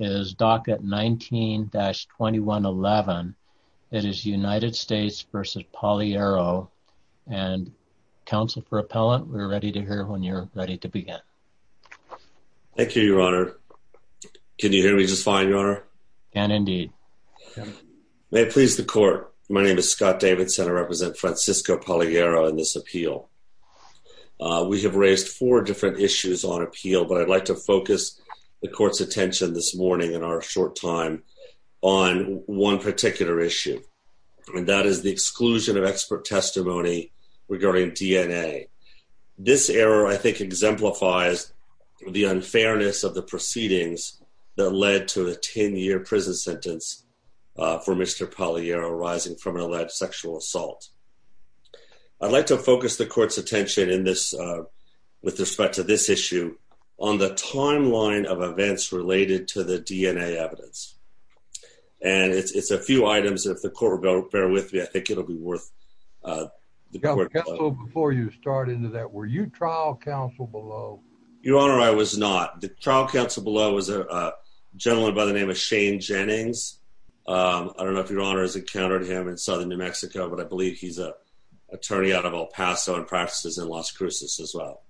is docket 19-2111 it is United States v. Palillero and counsel for appellant we're ready to hear when you're ready to begin thank you your honor can you hear me just fine your honor and indeed may please the court my name is Scott Davidson I represent Francisco Palillero in this appeal we have raised four different issues on appeal but I'd like to focus the court's attention this morning in our short time on one particular issue and that is the exclusion of expert testimony regarding DNA this error I think exemplifies the unfairness of the proceedings that led to a 10-year prison sentence for mr. Palillero rising from an alleged sexual assault I'd like to focus the court's attention in this with respect to this issue on the timeline of related to the DNA evidence and it's a few items if the court bear with me I think it'll be worth before you start into that were you trial counsel below your honor I was not the trial counsel below was a gentleman by the name of Shane Jennings I don't know if your honor has encountered him in southern New Mexico but I believe he's a attorney out of El Paso and practices in Las as well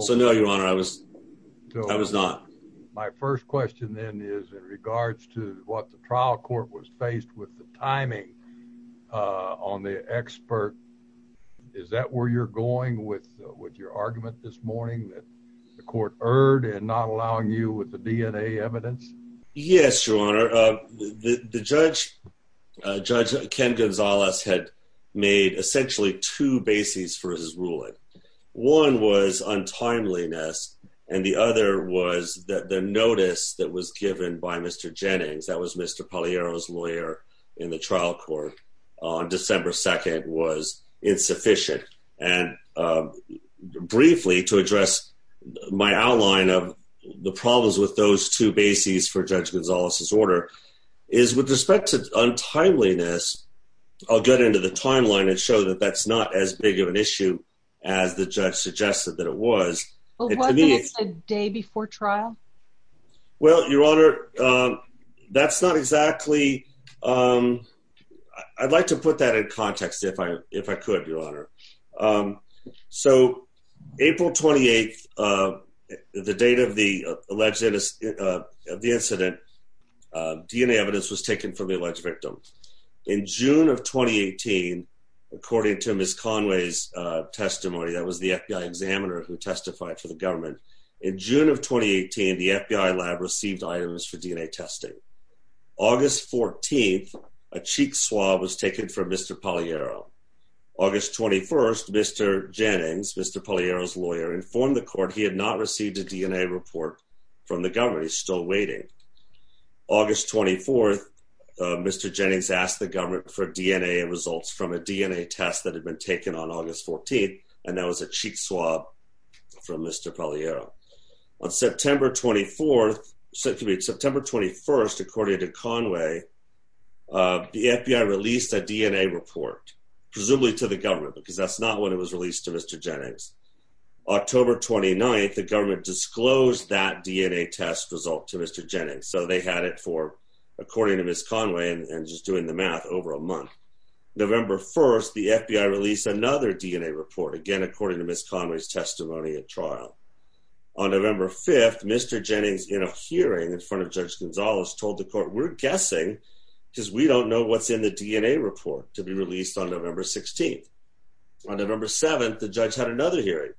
so no your honor I was I was not my first question then is in regards to what the trial court was faced with the timing on the expert is that where you're going with with your argument this morning that the court erred and not allowing you with the DNA evidence yes your honor the judge judge Ken Zalas had made essentially two bases for his ruling one was untimeliness and the other was that the notice that was given by mr. Jennings that was mr. Palillero's lawyer in the trial court on December 2nd was insufficient and briefly to address my outline of the problems with those two bases for judge order is with respect to untimeliness I'll get into the timeline and show that that's not as big of an issue as the judge suggested that it was a day before trial well your honor that's not exactly I'd like to put that in context if I if I could your honor so April 28th the date of the alleged of the incident DNA evidence was taken from the alleged victim in June of 2018 according to miss Conway's testimony that was the FBI examiner who testified for the government in June of 2018 the FBI lab received items for DNA testing August 14th a Mr. Palillero August 21st mr. Jennings mr. Palillero's lawyer informed the court he had not received a DNA report from the government he's still waiting August 24th mr. Jennings asked the government for DNA and results from a DNA test that had been taken on August 14th and that was a cheat swab from mr. Palillero on September 24th so to meet September 21st according to Conway the report presumably to the government because that's not what it was released to mr. Jennings October 29th the government disclosed that DNA test result to mr. Jennings so they had it for according to miss Conway and just doing the math over a month November 1st the FBI released another DNA report again according to miss Conway's testimony at trial on November 5th mr. Jennings in a hearing in front of judge Gonzalez told the court we're guessing because we don't know what's in the DNA report to be released on November 16th on November 7th the judge had another hearing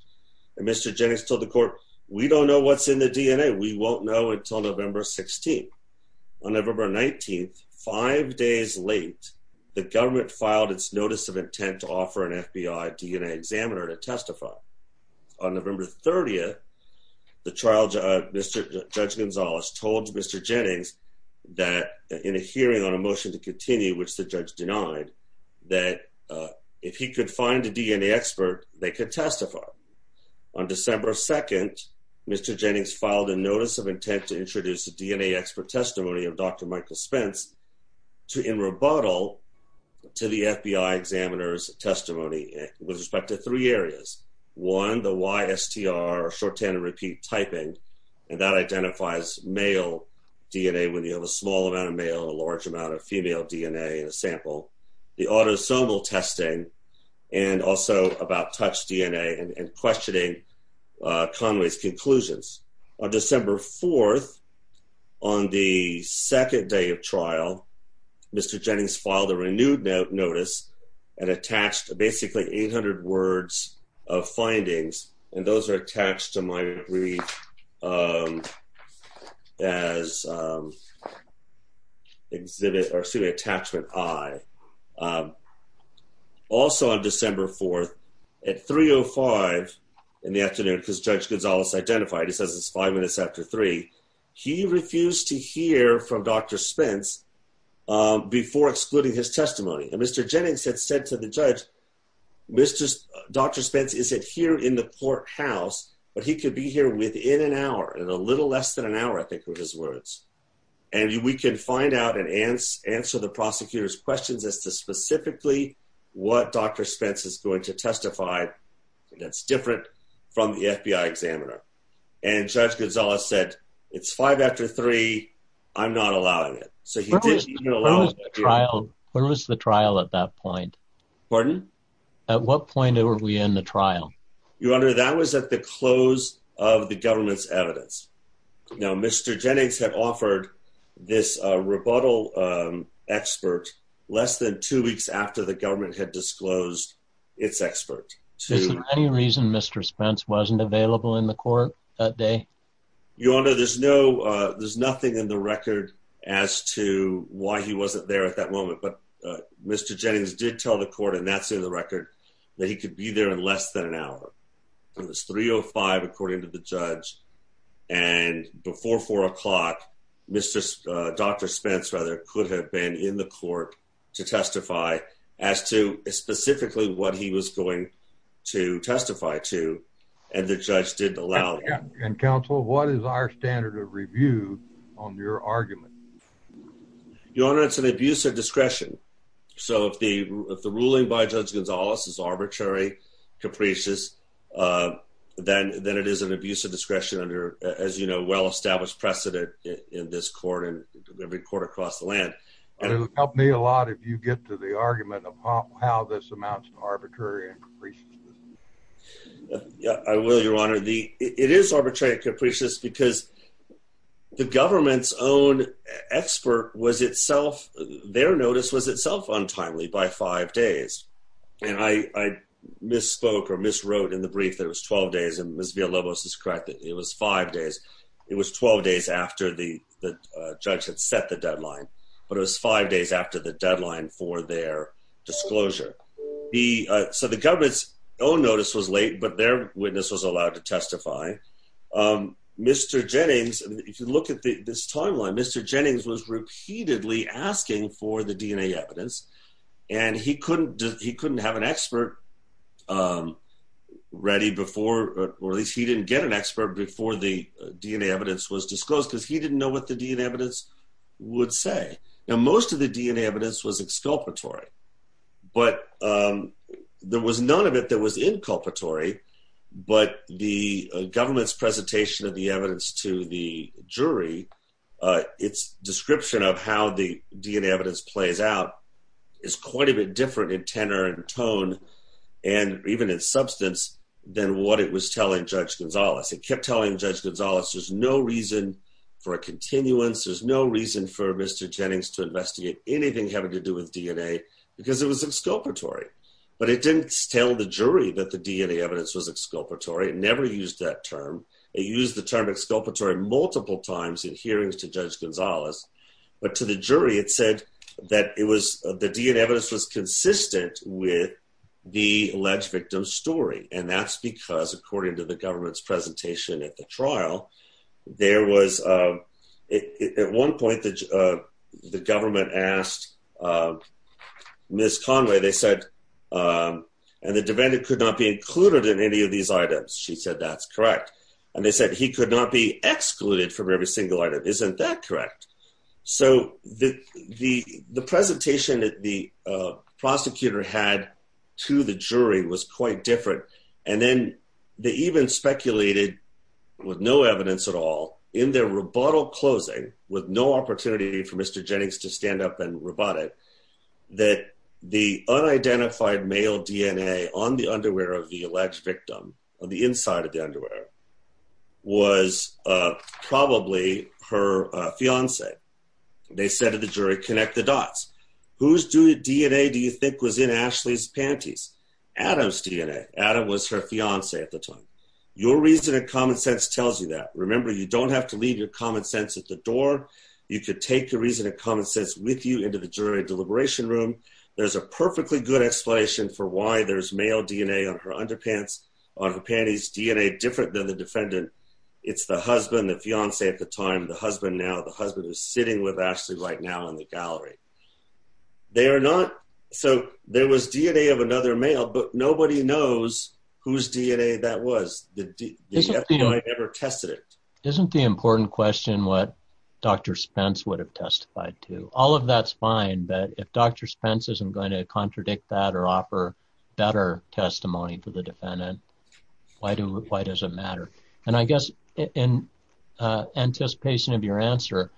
mr. Jennings told the court we don't know what's in the DNA we won't know until November 16th on November 19th five days late the government filed its notice of intent to offer an FBI DNA examiner to testify on November 30th the trial judge Gonzalez told mr. Jennings that in a hearing on a motion to continue which the judge denied that if he could find a DNA expert they could testify on December 2nd mr. Jennings filed a notice of intent to introduce the DNA expert testimony of dr. Michael Spence to in rebuttal to the FBI examiners testimony with respect to three areas one the YSTR or short and repeat typing and that identifies male DNA when you have a small amount of male a large amount of female DNA in a sample the autosomal testing and also about touch DNA and questioning Conway's conclusions on December 4th on the second day of trial mr. Jennings filed a renewed notice and attached basically 800 words of findings and those are exhibit or see the attachment I also on December 4th at 305 in the afternoon because judge Gonzales identified he says it's five minutes after three he refused to hear from dr. Spence before excluding his testimony and mr. Jennings had said to the judge mr. dr. Spence is it here in the courthouse but he could be here within an hour and a little less than an hour I think with his words and we can find out and answer the prosecutors questions as to specifically what dr. Spence is going to testify that's different from the FBI examiner and judge Gonzales said it's five after three I'm not allowing it so you know trial where was the trial at that point at what point are we in the trial your honor that was at the close of the government's evidence now mr. Jennings had offered this rebuttal expert less than two weeks after the government had disclosed its expert to any reason mr. Spence wasn't available in the court that day you honor there's no there's nothing in the record as to why he wasn't there at that moment but mr. Jennings did tell the court and that's in the record that he could be there in less than an hour it was 305 according to the judge and before 4 o'clock mr. dr. Spence rather could have been in the court to testify as to specifically what he was going to testify to and the judge didn't allow and counsel what is our standard of review on your argument your honor it's an abuse of discretion so if the ruling by judge Gonzales is arbitrary capricious then then it is an abuse of discretion under as you know well-established precedent in this court and every court across the land and it would help me a lot if you get to the argument of how this amounts to arbitrary I will your honor the it is arbitrary capricious because the government's own expert was itself their by five days and I misspoke or miswrote in the brief that was 12 days and misbehavior was discredited it was five days it was 12 days after the the judge had set the deadline but it was five days after the deadline for their disclosure the so the government's own notice was late but their witness was allowed to testify mr. Jennings if you look at this timeline mr. Jennings was repeatedly asking for the DNA evidence and he couldn't he couldn't have an expert ready before or at least he didn't get an expert before the DNA evidence was disclosed because he didn't know what the DNA evidence would say now most of the DNA evidence was exculpatory but there was none of it that was inculpatory but the government's presentation of the evidence to the jury its description of how the DNA evidence plays out is quite a bit different in tenor and tone and even in substance than what it was telling judge Gonzales it kept telling judge Gonzales there's no reason for a continuance there's no reason for mr. Jennings to investigate anything having to do with DNA because it was exculpatory but it didn't tell the jury that the DNA evidence was exculpatory never used that term they use the term exculpatory multiple times in hearings to judge Gonzales but to the jury it said that it was the DNA evidence was consistent with the alleged victim's story and that's because according to the government's presentation at the trial there was at one point the government asked miss Conway they said and the defendant could not be included in any of these items she said that's correct and they could not be excluded from every single item isn't that correct so the the the presentation that the prosecutor had to the jury was quite different and then they even speculated with no evidence at all in their rebuttal closing with no opportunity for mr. Jennings to stand up and rebut it that the unidentified male DNA on the underwear of the alleged victim of the inside of the underwear was probably her fiance they said to the jury connect the dots who's do DNA do you think was in Ashley's panties Adams DNA Adam was her fiance at the time your reason and common sense tells you that remember you don't have to leave your common sense at the door you could take the reason and common sense with you into the jury deliberation room there's a perfectly good explanation for why there's male DNA on her underpants on her panties DNA different than the defendant it's the husband the fiance at the time the husband now the husband is sitting with Ashley right now in the gallery they are not so there was DNA of another male but nobody knows whose DNA that was the ever tested it isn't the important question what dr. Spence would have testified to all of that's fine but if dr. Spence isn't going to contradict that or offer better testimony for the defendant why do it why does it matter and I guess in anticipation of your answer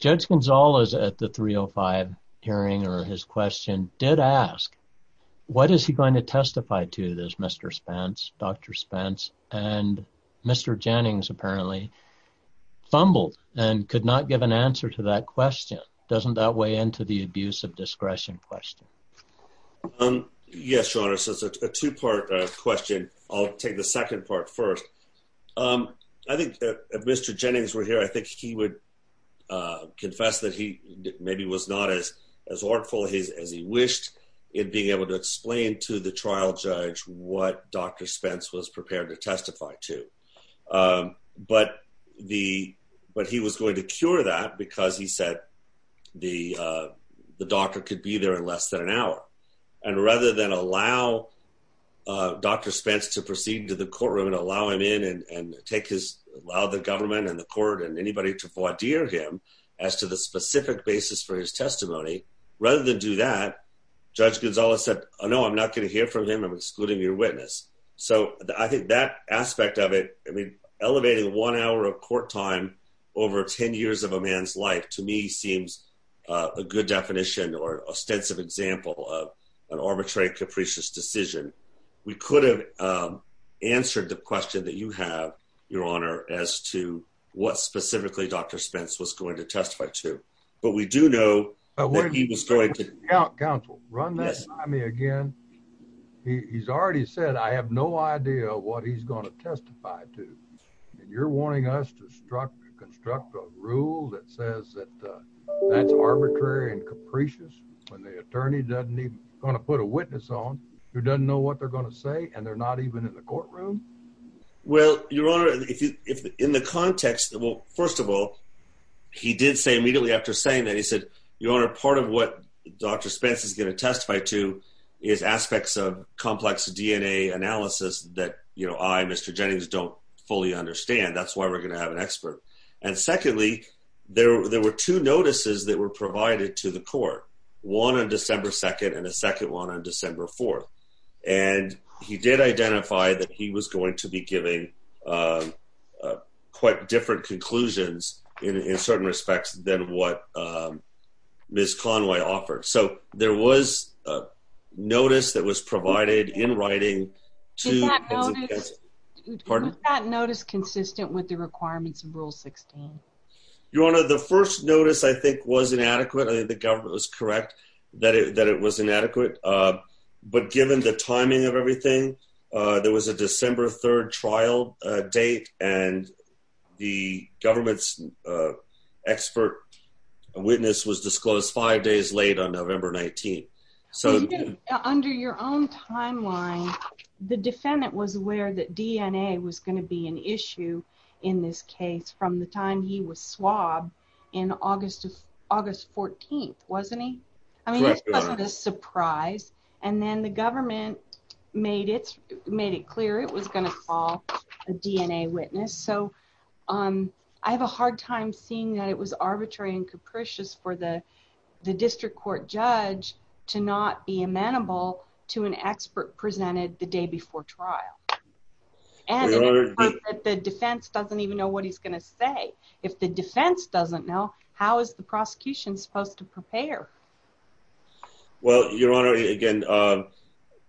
judge Gonzales at the 305 hearing or his question did ask what is he going to testify to this mr. Spence dr. Spence and mr. Jennings apparently fumbled and could not give an answer to that question doesn't that weigh into the abuse of discretion question yes your honor says a two-part question I'll take the second part first I think mr. Jennings were here I think he would confess that he maybe was not as as artful his as he wished it being able to explain to the trial judge what dr. Spence was prepared to testify to but the but he was going to cure that because he said the doctor could be there in less than an hour and rather than allow dr. Spence to proceed to the courtroom and allow him in and take his allow the government and the court and anybody to for dear him as to the specific basis for his testimony rather than do that judge Gonzales said oh no I'm not gonna hear from him I'm excluding your witness so I think that aspect of it I mean elevating one hour of court time over ten years of a man's life to me seems a good definition or ostensive example of an arbitrary capricious decision we could have answered the question that you have your honor as to what specifically dr. Spence was going to testify to but we do know where he was going to run that I mean again he's already said I have no idea what he's going to testify to and you're wanting us to structure construct a rule that says that that's arbitrary and capricious when the attorney doesn't need gonna put a witness on who doesn't know what they're gonna say and they're not even in the courtroom well your honor if in the context well first of all he did say immediately after saying that he said your honor part of what dr. Spence is gonna testify to is aspects of complex DNA analysis that you know I'm mr. Jennings don't fully understand that's why we're gonna have an expert and secondly there were two notices that were provided to the court one on December 2nd and a second one on December 4th and he did identify that he was going to be giving quite different conclusions in certain respects than what ms. Conway offered so there was a notice that was provided in writing to pardon that notice consistent with the requirements of rule 16 your honor the first notice I think was inadequate I think the government was correct that it that it was inadequate but given the timing of everything there was a witness was disclosed five days late on November 19 so under your own timeline the defendant was aware that DNA was going to be an issue in this case from the time he was swabbed in August of August 14th wasn't he I mean a surprise and then the government made it made it clear it was gonna call a DNA witness so um I have a hard time seeing that it was arbitrary and capricious for the the district court judge to not be amenable to an expert presented the day before trial and the defense doesn't even know what he's gonna say if the defense doesn't know how is the prosecution supposed to prepare well your honor again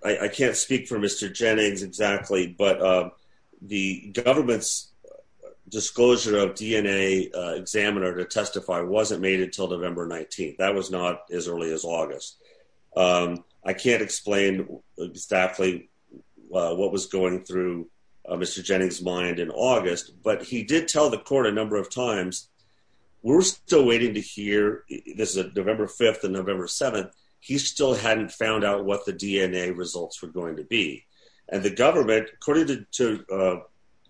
I can't speak for mr. Jennings exactly but the government's disclosure of DNA examiner to testify wasn't made until November 19th that was not as early as August I can't explain exactly what was going through mr. Jennings mind in August but he did tell the court a number of times we're still waiting to hear this is a November 5th and November 7th he still hadn't found out what the DNA results were going to be and the government according to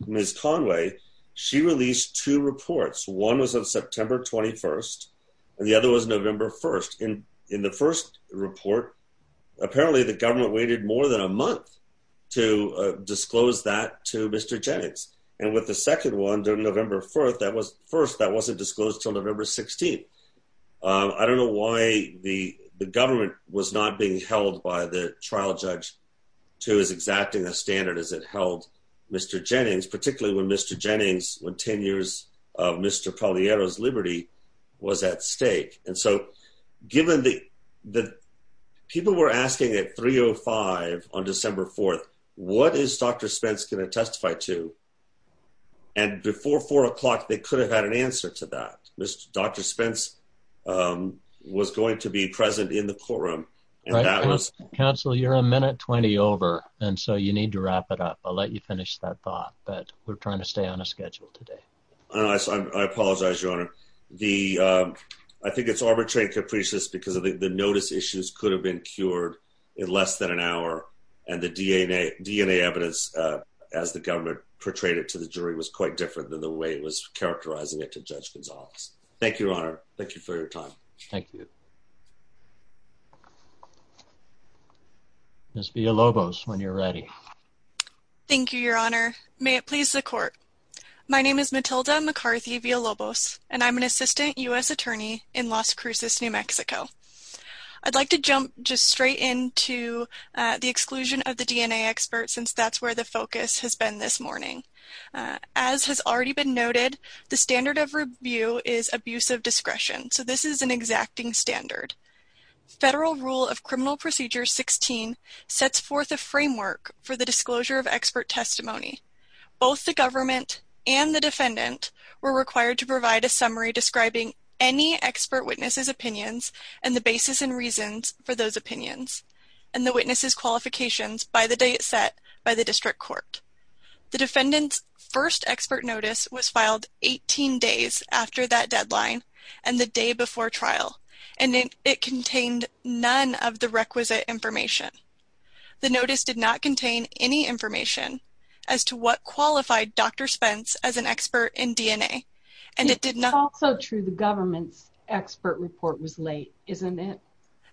miss Conway she released two reports one was of September 21st and the other was November 1st in in the first report apparently the government waited more than a month to disclose that to mr. Jennings and with the second one during November 4th that was first that wasn't disclosed till November 16th I don't know why the the government was not being held by the trial judge to his acting a standard as it held mr. Jennings particularly when mr. Jennings when ten years of mr. Polly arrows Liberty was at stake and so given the the people were asking at 305 on December 4th what is dr. Spence gonna testify to and before four o'clock they could have had an answer to that mr. dr. Spence was going to be present in the courtroom counsel you're a minute 20 over and so you need to wrap it up I'll let you finish that thought but we're trying to stay on a schedule today I apologize your honor the I think it's arbitrary capricious because of the notice issues could have been cured in less than an hour and the DNA DNA evidence as the government portrayed it to the jury was quite different than the way it was characterizing it to judge Gonzales thank you your honor thank you for your Miss Villalobos when you're ready thank you your honor may it please the court my name is Matilda McCarthy Villalobos and I'm an assistant US attorney in Las Cruces New Mexico I'd like to jump just straight into the exclusion of the DNA expert since that's where the focus has been this morning as has already been noted the standard of review is abuse of discretion so this is an exacting standard federal rule of criminal procedures 16 sets forth a framework for the disclosure of expert testimony both the government and the defendant were required to provide a summary describing any expert witnesses opinions and the basis and reasons for those opinions and the witnesses qualifications by the date set by the district court the defendant's first expert notice was and it contained none of the requisite information the notice did not contain any information as to what qualified dr. Spence as an expert in DNA and it did not so true the government's expert report was late isn't it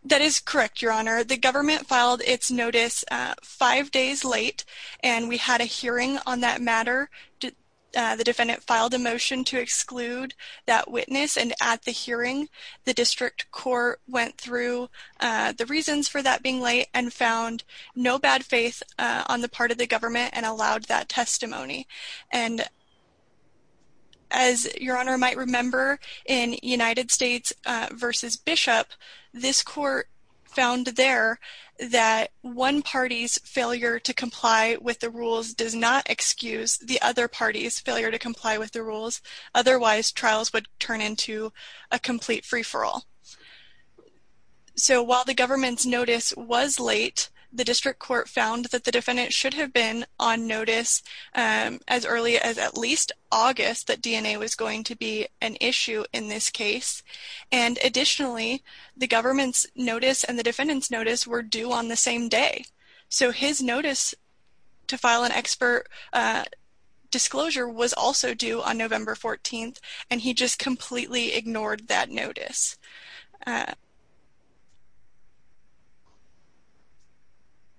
that is correct your honor the government filed its notice five days late and we had a hearing on that matter the defendant filed a motion to exclude that witness and at the hearing the district court went through the reasons for that being late and found no bad faith on the part of the government and allowed that testimony and as your honor might remember in United States versus Bishop this court found there that one party's failure to comply with the rules does not excuse the other party's failure to comply with the rules otherwise trials would turn into a complete free-for-all so while the government's notice was late the district court found that the defendant should have been on notice as early as at least August that DNA was going to be an issue in this case and additionally the government's notice and the defendant's notice were due on the same day so his notice to file an expert disclosure was also due on November 14th and he just completely ignored that notice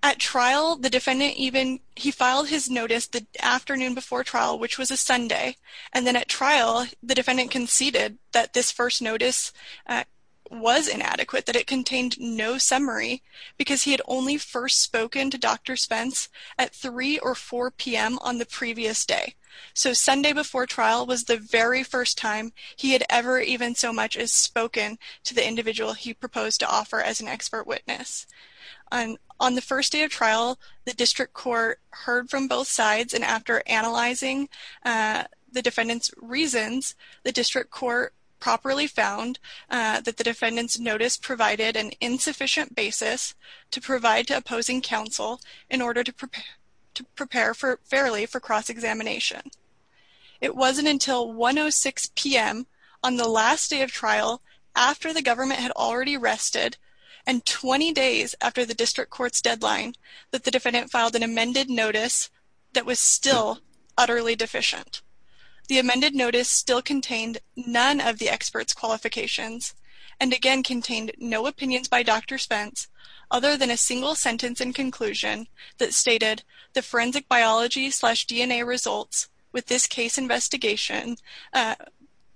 at trial the defendant even he filed his notice the afternoon before trial which was a Sunday and then at trial the defendant conceded that this first notice was inadequate that it contained no summary because he had only first spoken to dr. Spence at 3 or 4 p.m. on the previous day so Sunday before trial was the very first time he had ever even so much as spoken to the individual he proposed to offer as an expert witness and on the first day of trial the district court heard from both sides and after analyzing the defendants reasons the district court properly found that the defendants notice provided an insufficient basis to cross-examination it wasn't until 106 p.m. on the last day of trial after the government had already rested and 20 days after the district court's deadline that the defendant filed an amended notice that was still utterly deficient the amended notice still contained none of the experts qualifications and again contained no opinions by dr. Spence other than a results with this case investigation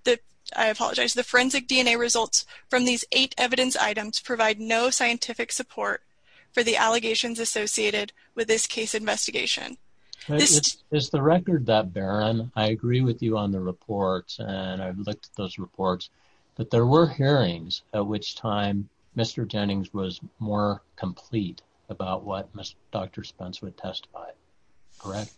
that I apologize the forensic DNA results from these eight evidence items provide no scientific support for the allegations associated with this case investigation it's the record that Baron I agree with you on the reports and I've looked at those reports but there were hearings at which time mr. Jennings was more complete about what mr. dr. Spence would testify correct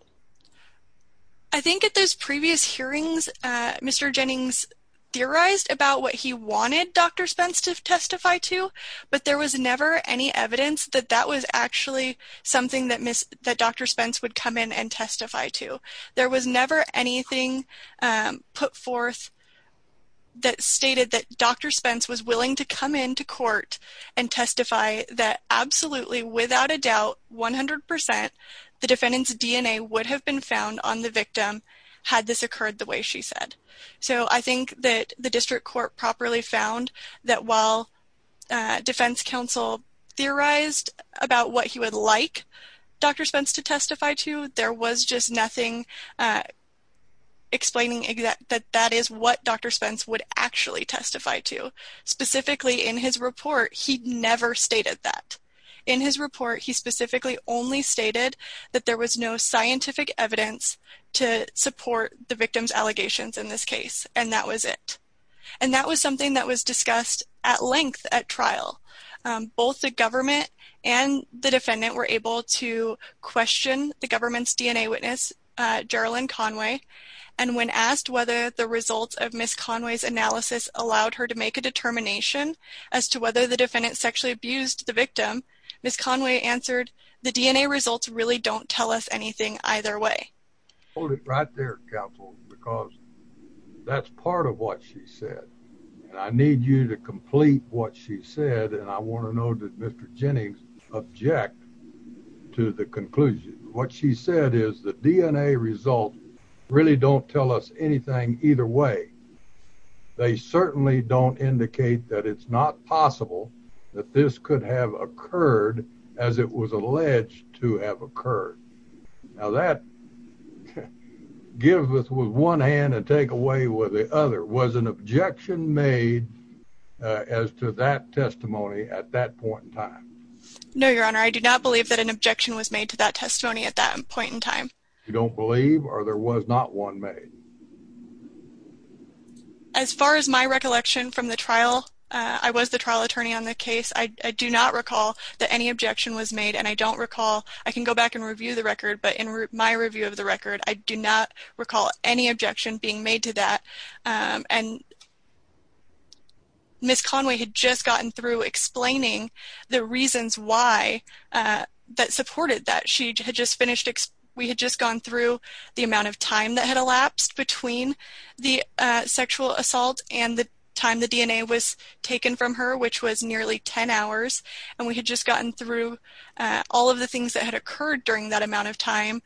I think at those previous hearings mr. Jennings theorized about what he wanted dr. Spence to testify to but there was never any evidence that that was actually something that miss that dr. Spence would come in and testify to there was never anything put forth that stated that dr. Spence was willing to come in to court and testify that absolutely without a doubt 100% the defendant's DNA would have been found on the victim had this occurred the way she said so I think that the district court properly found that while defense counsel theorized about what he would like dr. Spence to testify to there was just nothing explaining that that is what dr. Spence would actually testify to specifically in his report he never stated that in his report he specifically only stated that there was no scientific evidence to support the victims allegations in this case and that was it and that was something that was discussed at length at trial both the government and the defendant were able to question the government's DNA witness Jarolyn Conway and when asked whether the results of miss Conway's analysis allowed her to make a determination as to whether the defendant sexually abused the victim miss Conway answered the DNA results really don't tell us anything either way hold it right there counsel because that's part of what she said I need you to complete what she said and I want to know that mr. Jennings object to the conclusion what she said is the DNA result really don't tell us anything either way they certainly don't indicate that it's not possible that this could have occurred as it was alleged to have occurred now that gives us with one hand and take away with the other was an objection made as to that testimony at that point in time no your honor I do not believe that an objection was made to that testimony at that point in time you don't believe or there was not one made as far as my recollection from the trial I was the trial attorney on the case I do not recall that any objection was made and I don't recall I can go back and review the record but in my review of the record I do not recall any objection being made to that and miss Conway had just gotten through explaining the reasons why that supported that she had just finished we had just gone through the amount of time that had elapsed between the sexual assault and the time the DNA was taken from her which was nearly 10 hours and we had just gotten through all of the things that occurred during that amount of time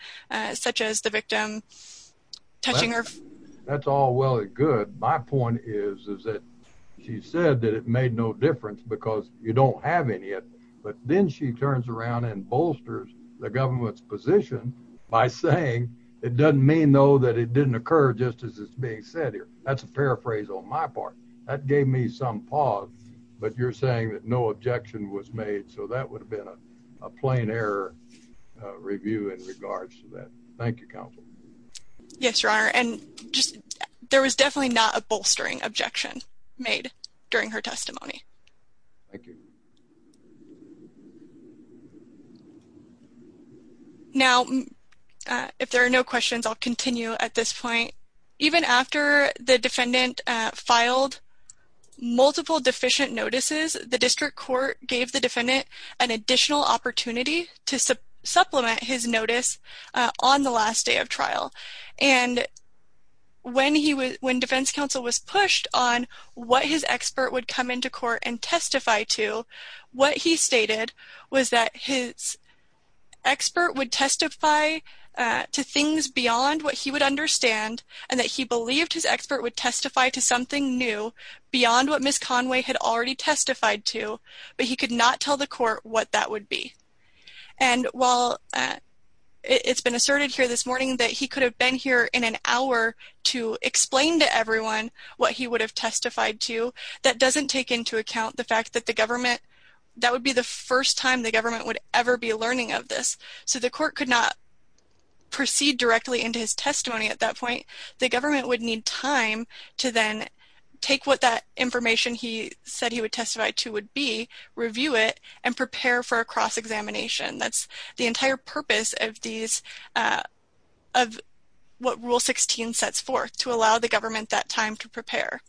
such as the victim that's all well and good my point is that she said that it made no difference because you don't have it yet but then she turns around and bolsters the government's by saying it doesn't mean though that it didn't occur just as it's being said here that's a paraphrase on my part that gave me some pause but you're saying that no objection was made so that would have been a plain error review in regards to that thank you counsel yes your honor and just there was definitely not a now if there are no questions I'll continue at this point even after the defendant filed multiple deficient notices the district court gave the defendant an additional opportunity to supplement his notice on the last day of trial and when he was when defense counsel was pushed on what his expert would come into court and testify to what he stated was that his expert would testify to things beyond what he would understand and that he believed his expert would testify to something new beyond what Miss Conway had already testified to but he could not tell the court what that would be and while it's been asserted here this morning that he could have been here in an hour to explain to everyone what he would have testified to that doesn't take into account the fact that the government that would be the first time the court could not proceed directly into his testimony at that point the government would need time to then take what that information he said he would testify to would be review it and prepare for a cross-examination that's the entire purpose of these of what rule 16 sets forth to allow the government that time to prepare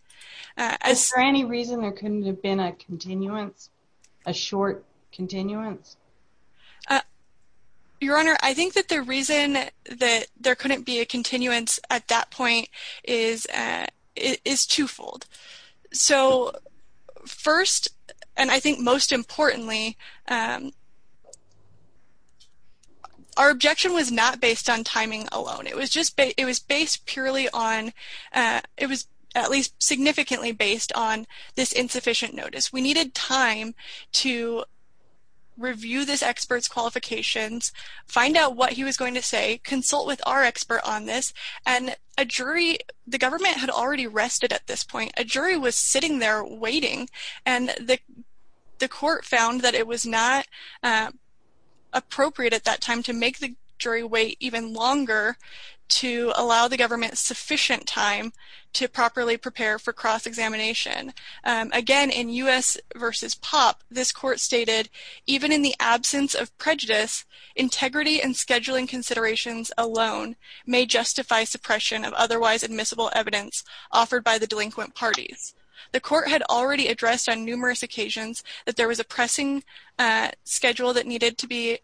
as for any reason there couldn't have been a continuance a I think that the reason that there couldn't be a continuance at that point is is twofold so first and I think most importantly our objection was not based on timing alone it was just but it was based purely on it was at least significantly based on this insufficient notice we needed time to review this experts qualifications find out what he was going to say consult with our expert on this and a jury the government had already rested at this point a jury was sitting there waiting and the the court found that it was not appropriate at that time to make the jury wait even longer to allow the government sufficient time to properly prepare for cross-examination again in u.s. versus pop this court stated even in the absence of prejudice integrity and scheduling considerations alone may justify suppression of otherwise admissible evidence offered by the delinquent parties the court had already addressed on numerous occasions that there was a pressing schedule that needed to be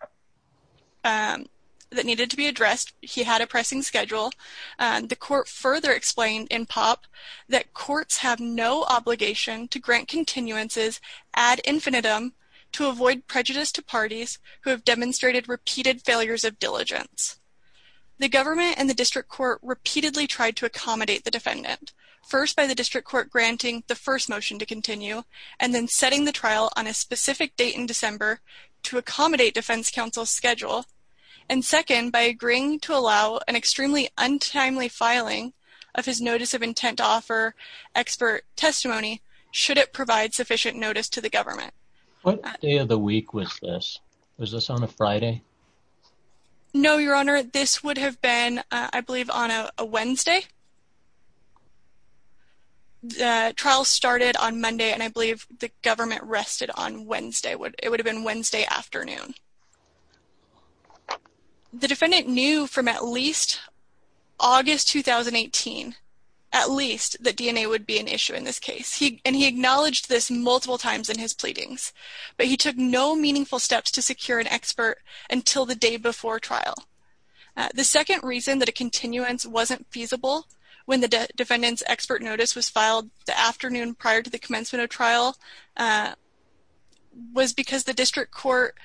that needed to be addressed he had a pressing schedule and the court further explained in pop that courts have no obligation to grant continuances ad infinitum to avoid prejudice to parties who have demonstrated repeated failures of diligence the government and the district court repeatedly tried to accommodate the defendant first by the district court granting the first motion to continue and then setting the trial on a specific date in December to accommodate defense counsel schedule and second by agreeing to allow an extremely untimely filing of his notice of intent offer expert testimony should it provide sufficient notice to the government the week was this was this on a Friday no your honor this would have been I believe on a Wednesday trial started on Monday and I believe the government rested on Wednesday what it would've been Wednesday afternoon the defendant knew from at least August 2018 at least the DNA would be an issue in this case he acknowledged this multiple times in his pleadings but he took no meaningful steps to secure an expert until the day before trial the second reason that a continuance wasn't feasible when the defendant's expert notice was filed the afternoon prior to the commencement of trial was because the district court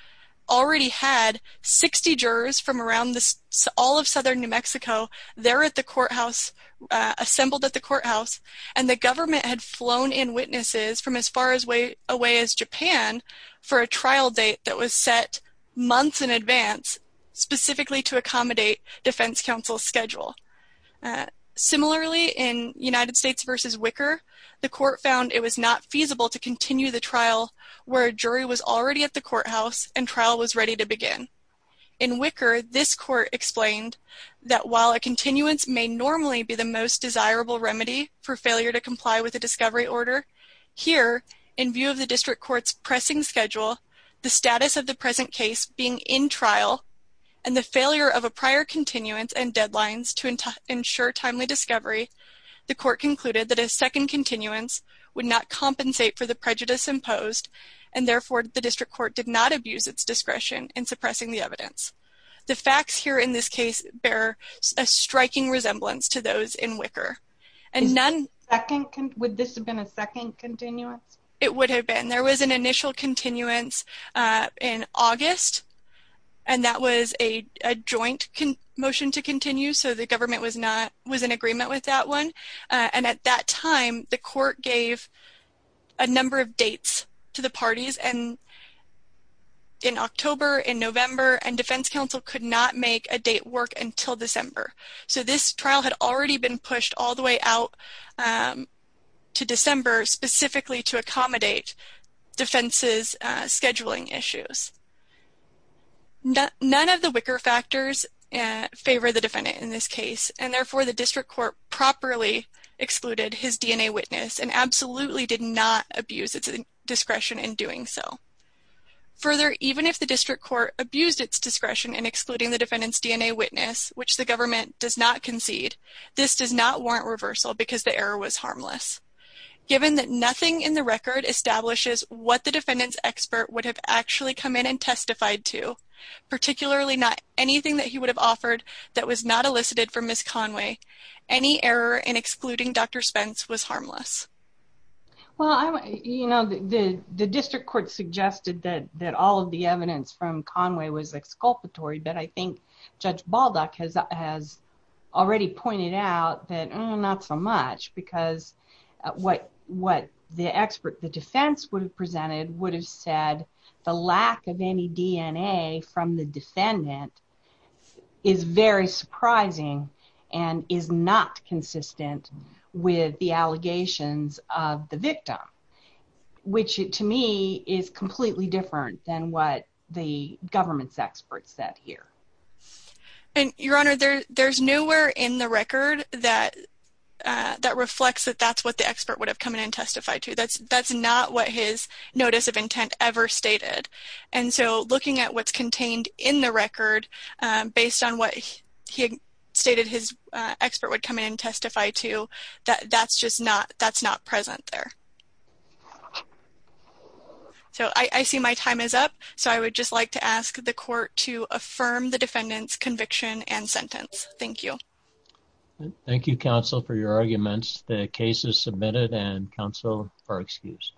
already had 60 jurors from around this all of southern New Mexico there at the courthouse assembled at the courthouse and the government had flown in witnesses from as far as way away as Japan for a trial date that was set months in advance specifically to accommodate defense counsel schedule similarly in United States versus Wicker the court found it was not feasible to continue the trial where a jury was already at the courthouse and trial was ready to begin in Wicker this court explained that while a continuance may normally be the most desirable remedy for failure to comply with the discovery order here in view of the district court's pressing schedule the status of the present case being in trial and the failure of a prior continuance and deadlines to ensure timely discovery the court concluded that a second continuance would not compensate for the prejudice imposed and therefore the district court did not abuse its pressing the evidence the facts here in this case bear a striking resemblance to those in Wicker and none second would this have been a second continuance it would have been there was an initial continuance in August and that was a joint motion to continue so the government was not was in agreement with that one and at that time the court gave a number of dates to the parties and in November and defense counsel could not make a date work until December so this trial had already been pushed all the way out to December specifically to accommodate defenses scheduling issues none of the Wicker factors and favor the defendant in this case and therefore the district court properly excluded his DNA witness and absolutely did not abuse its discretion in doing so further even if the district court abused its discretion in excluding the defendants DNA witness which the government does not concede this does not warrant reversal because the error was harmless given that nothing in the record establishes what the defendants expert would have actually come in and testified to particularly not anything that he would have offered that was not elicited from Miss Conway any error in excluding Dr. Spence was harmless well I'm you know the the district court suggested that that all of the evidence from Conway was exculpatory but I think Judge Baldock has already pointed out that not so much because what what the expert the defense would have presented would have said the lack of any DNA from the defendant is very surprising and is not consistent with the allegations of the victim which to me is completely different than what the government's experts that here and your honor there there's nowhere in the record that that reflects that that's what the expert would have come in and testified to that's that's not what his notice of intent ever stated and so looking at what's contained in the record based on he stated his expert would come in and testify to that that's just not that's not present there so I see my time is up so I would just like to ask the court to affirm the defendants conviction and sentence thank you thank you counsel for your arguments the case is submitted and counsel for excuse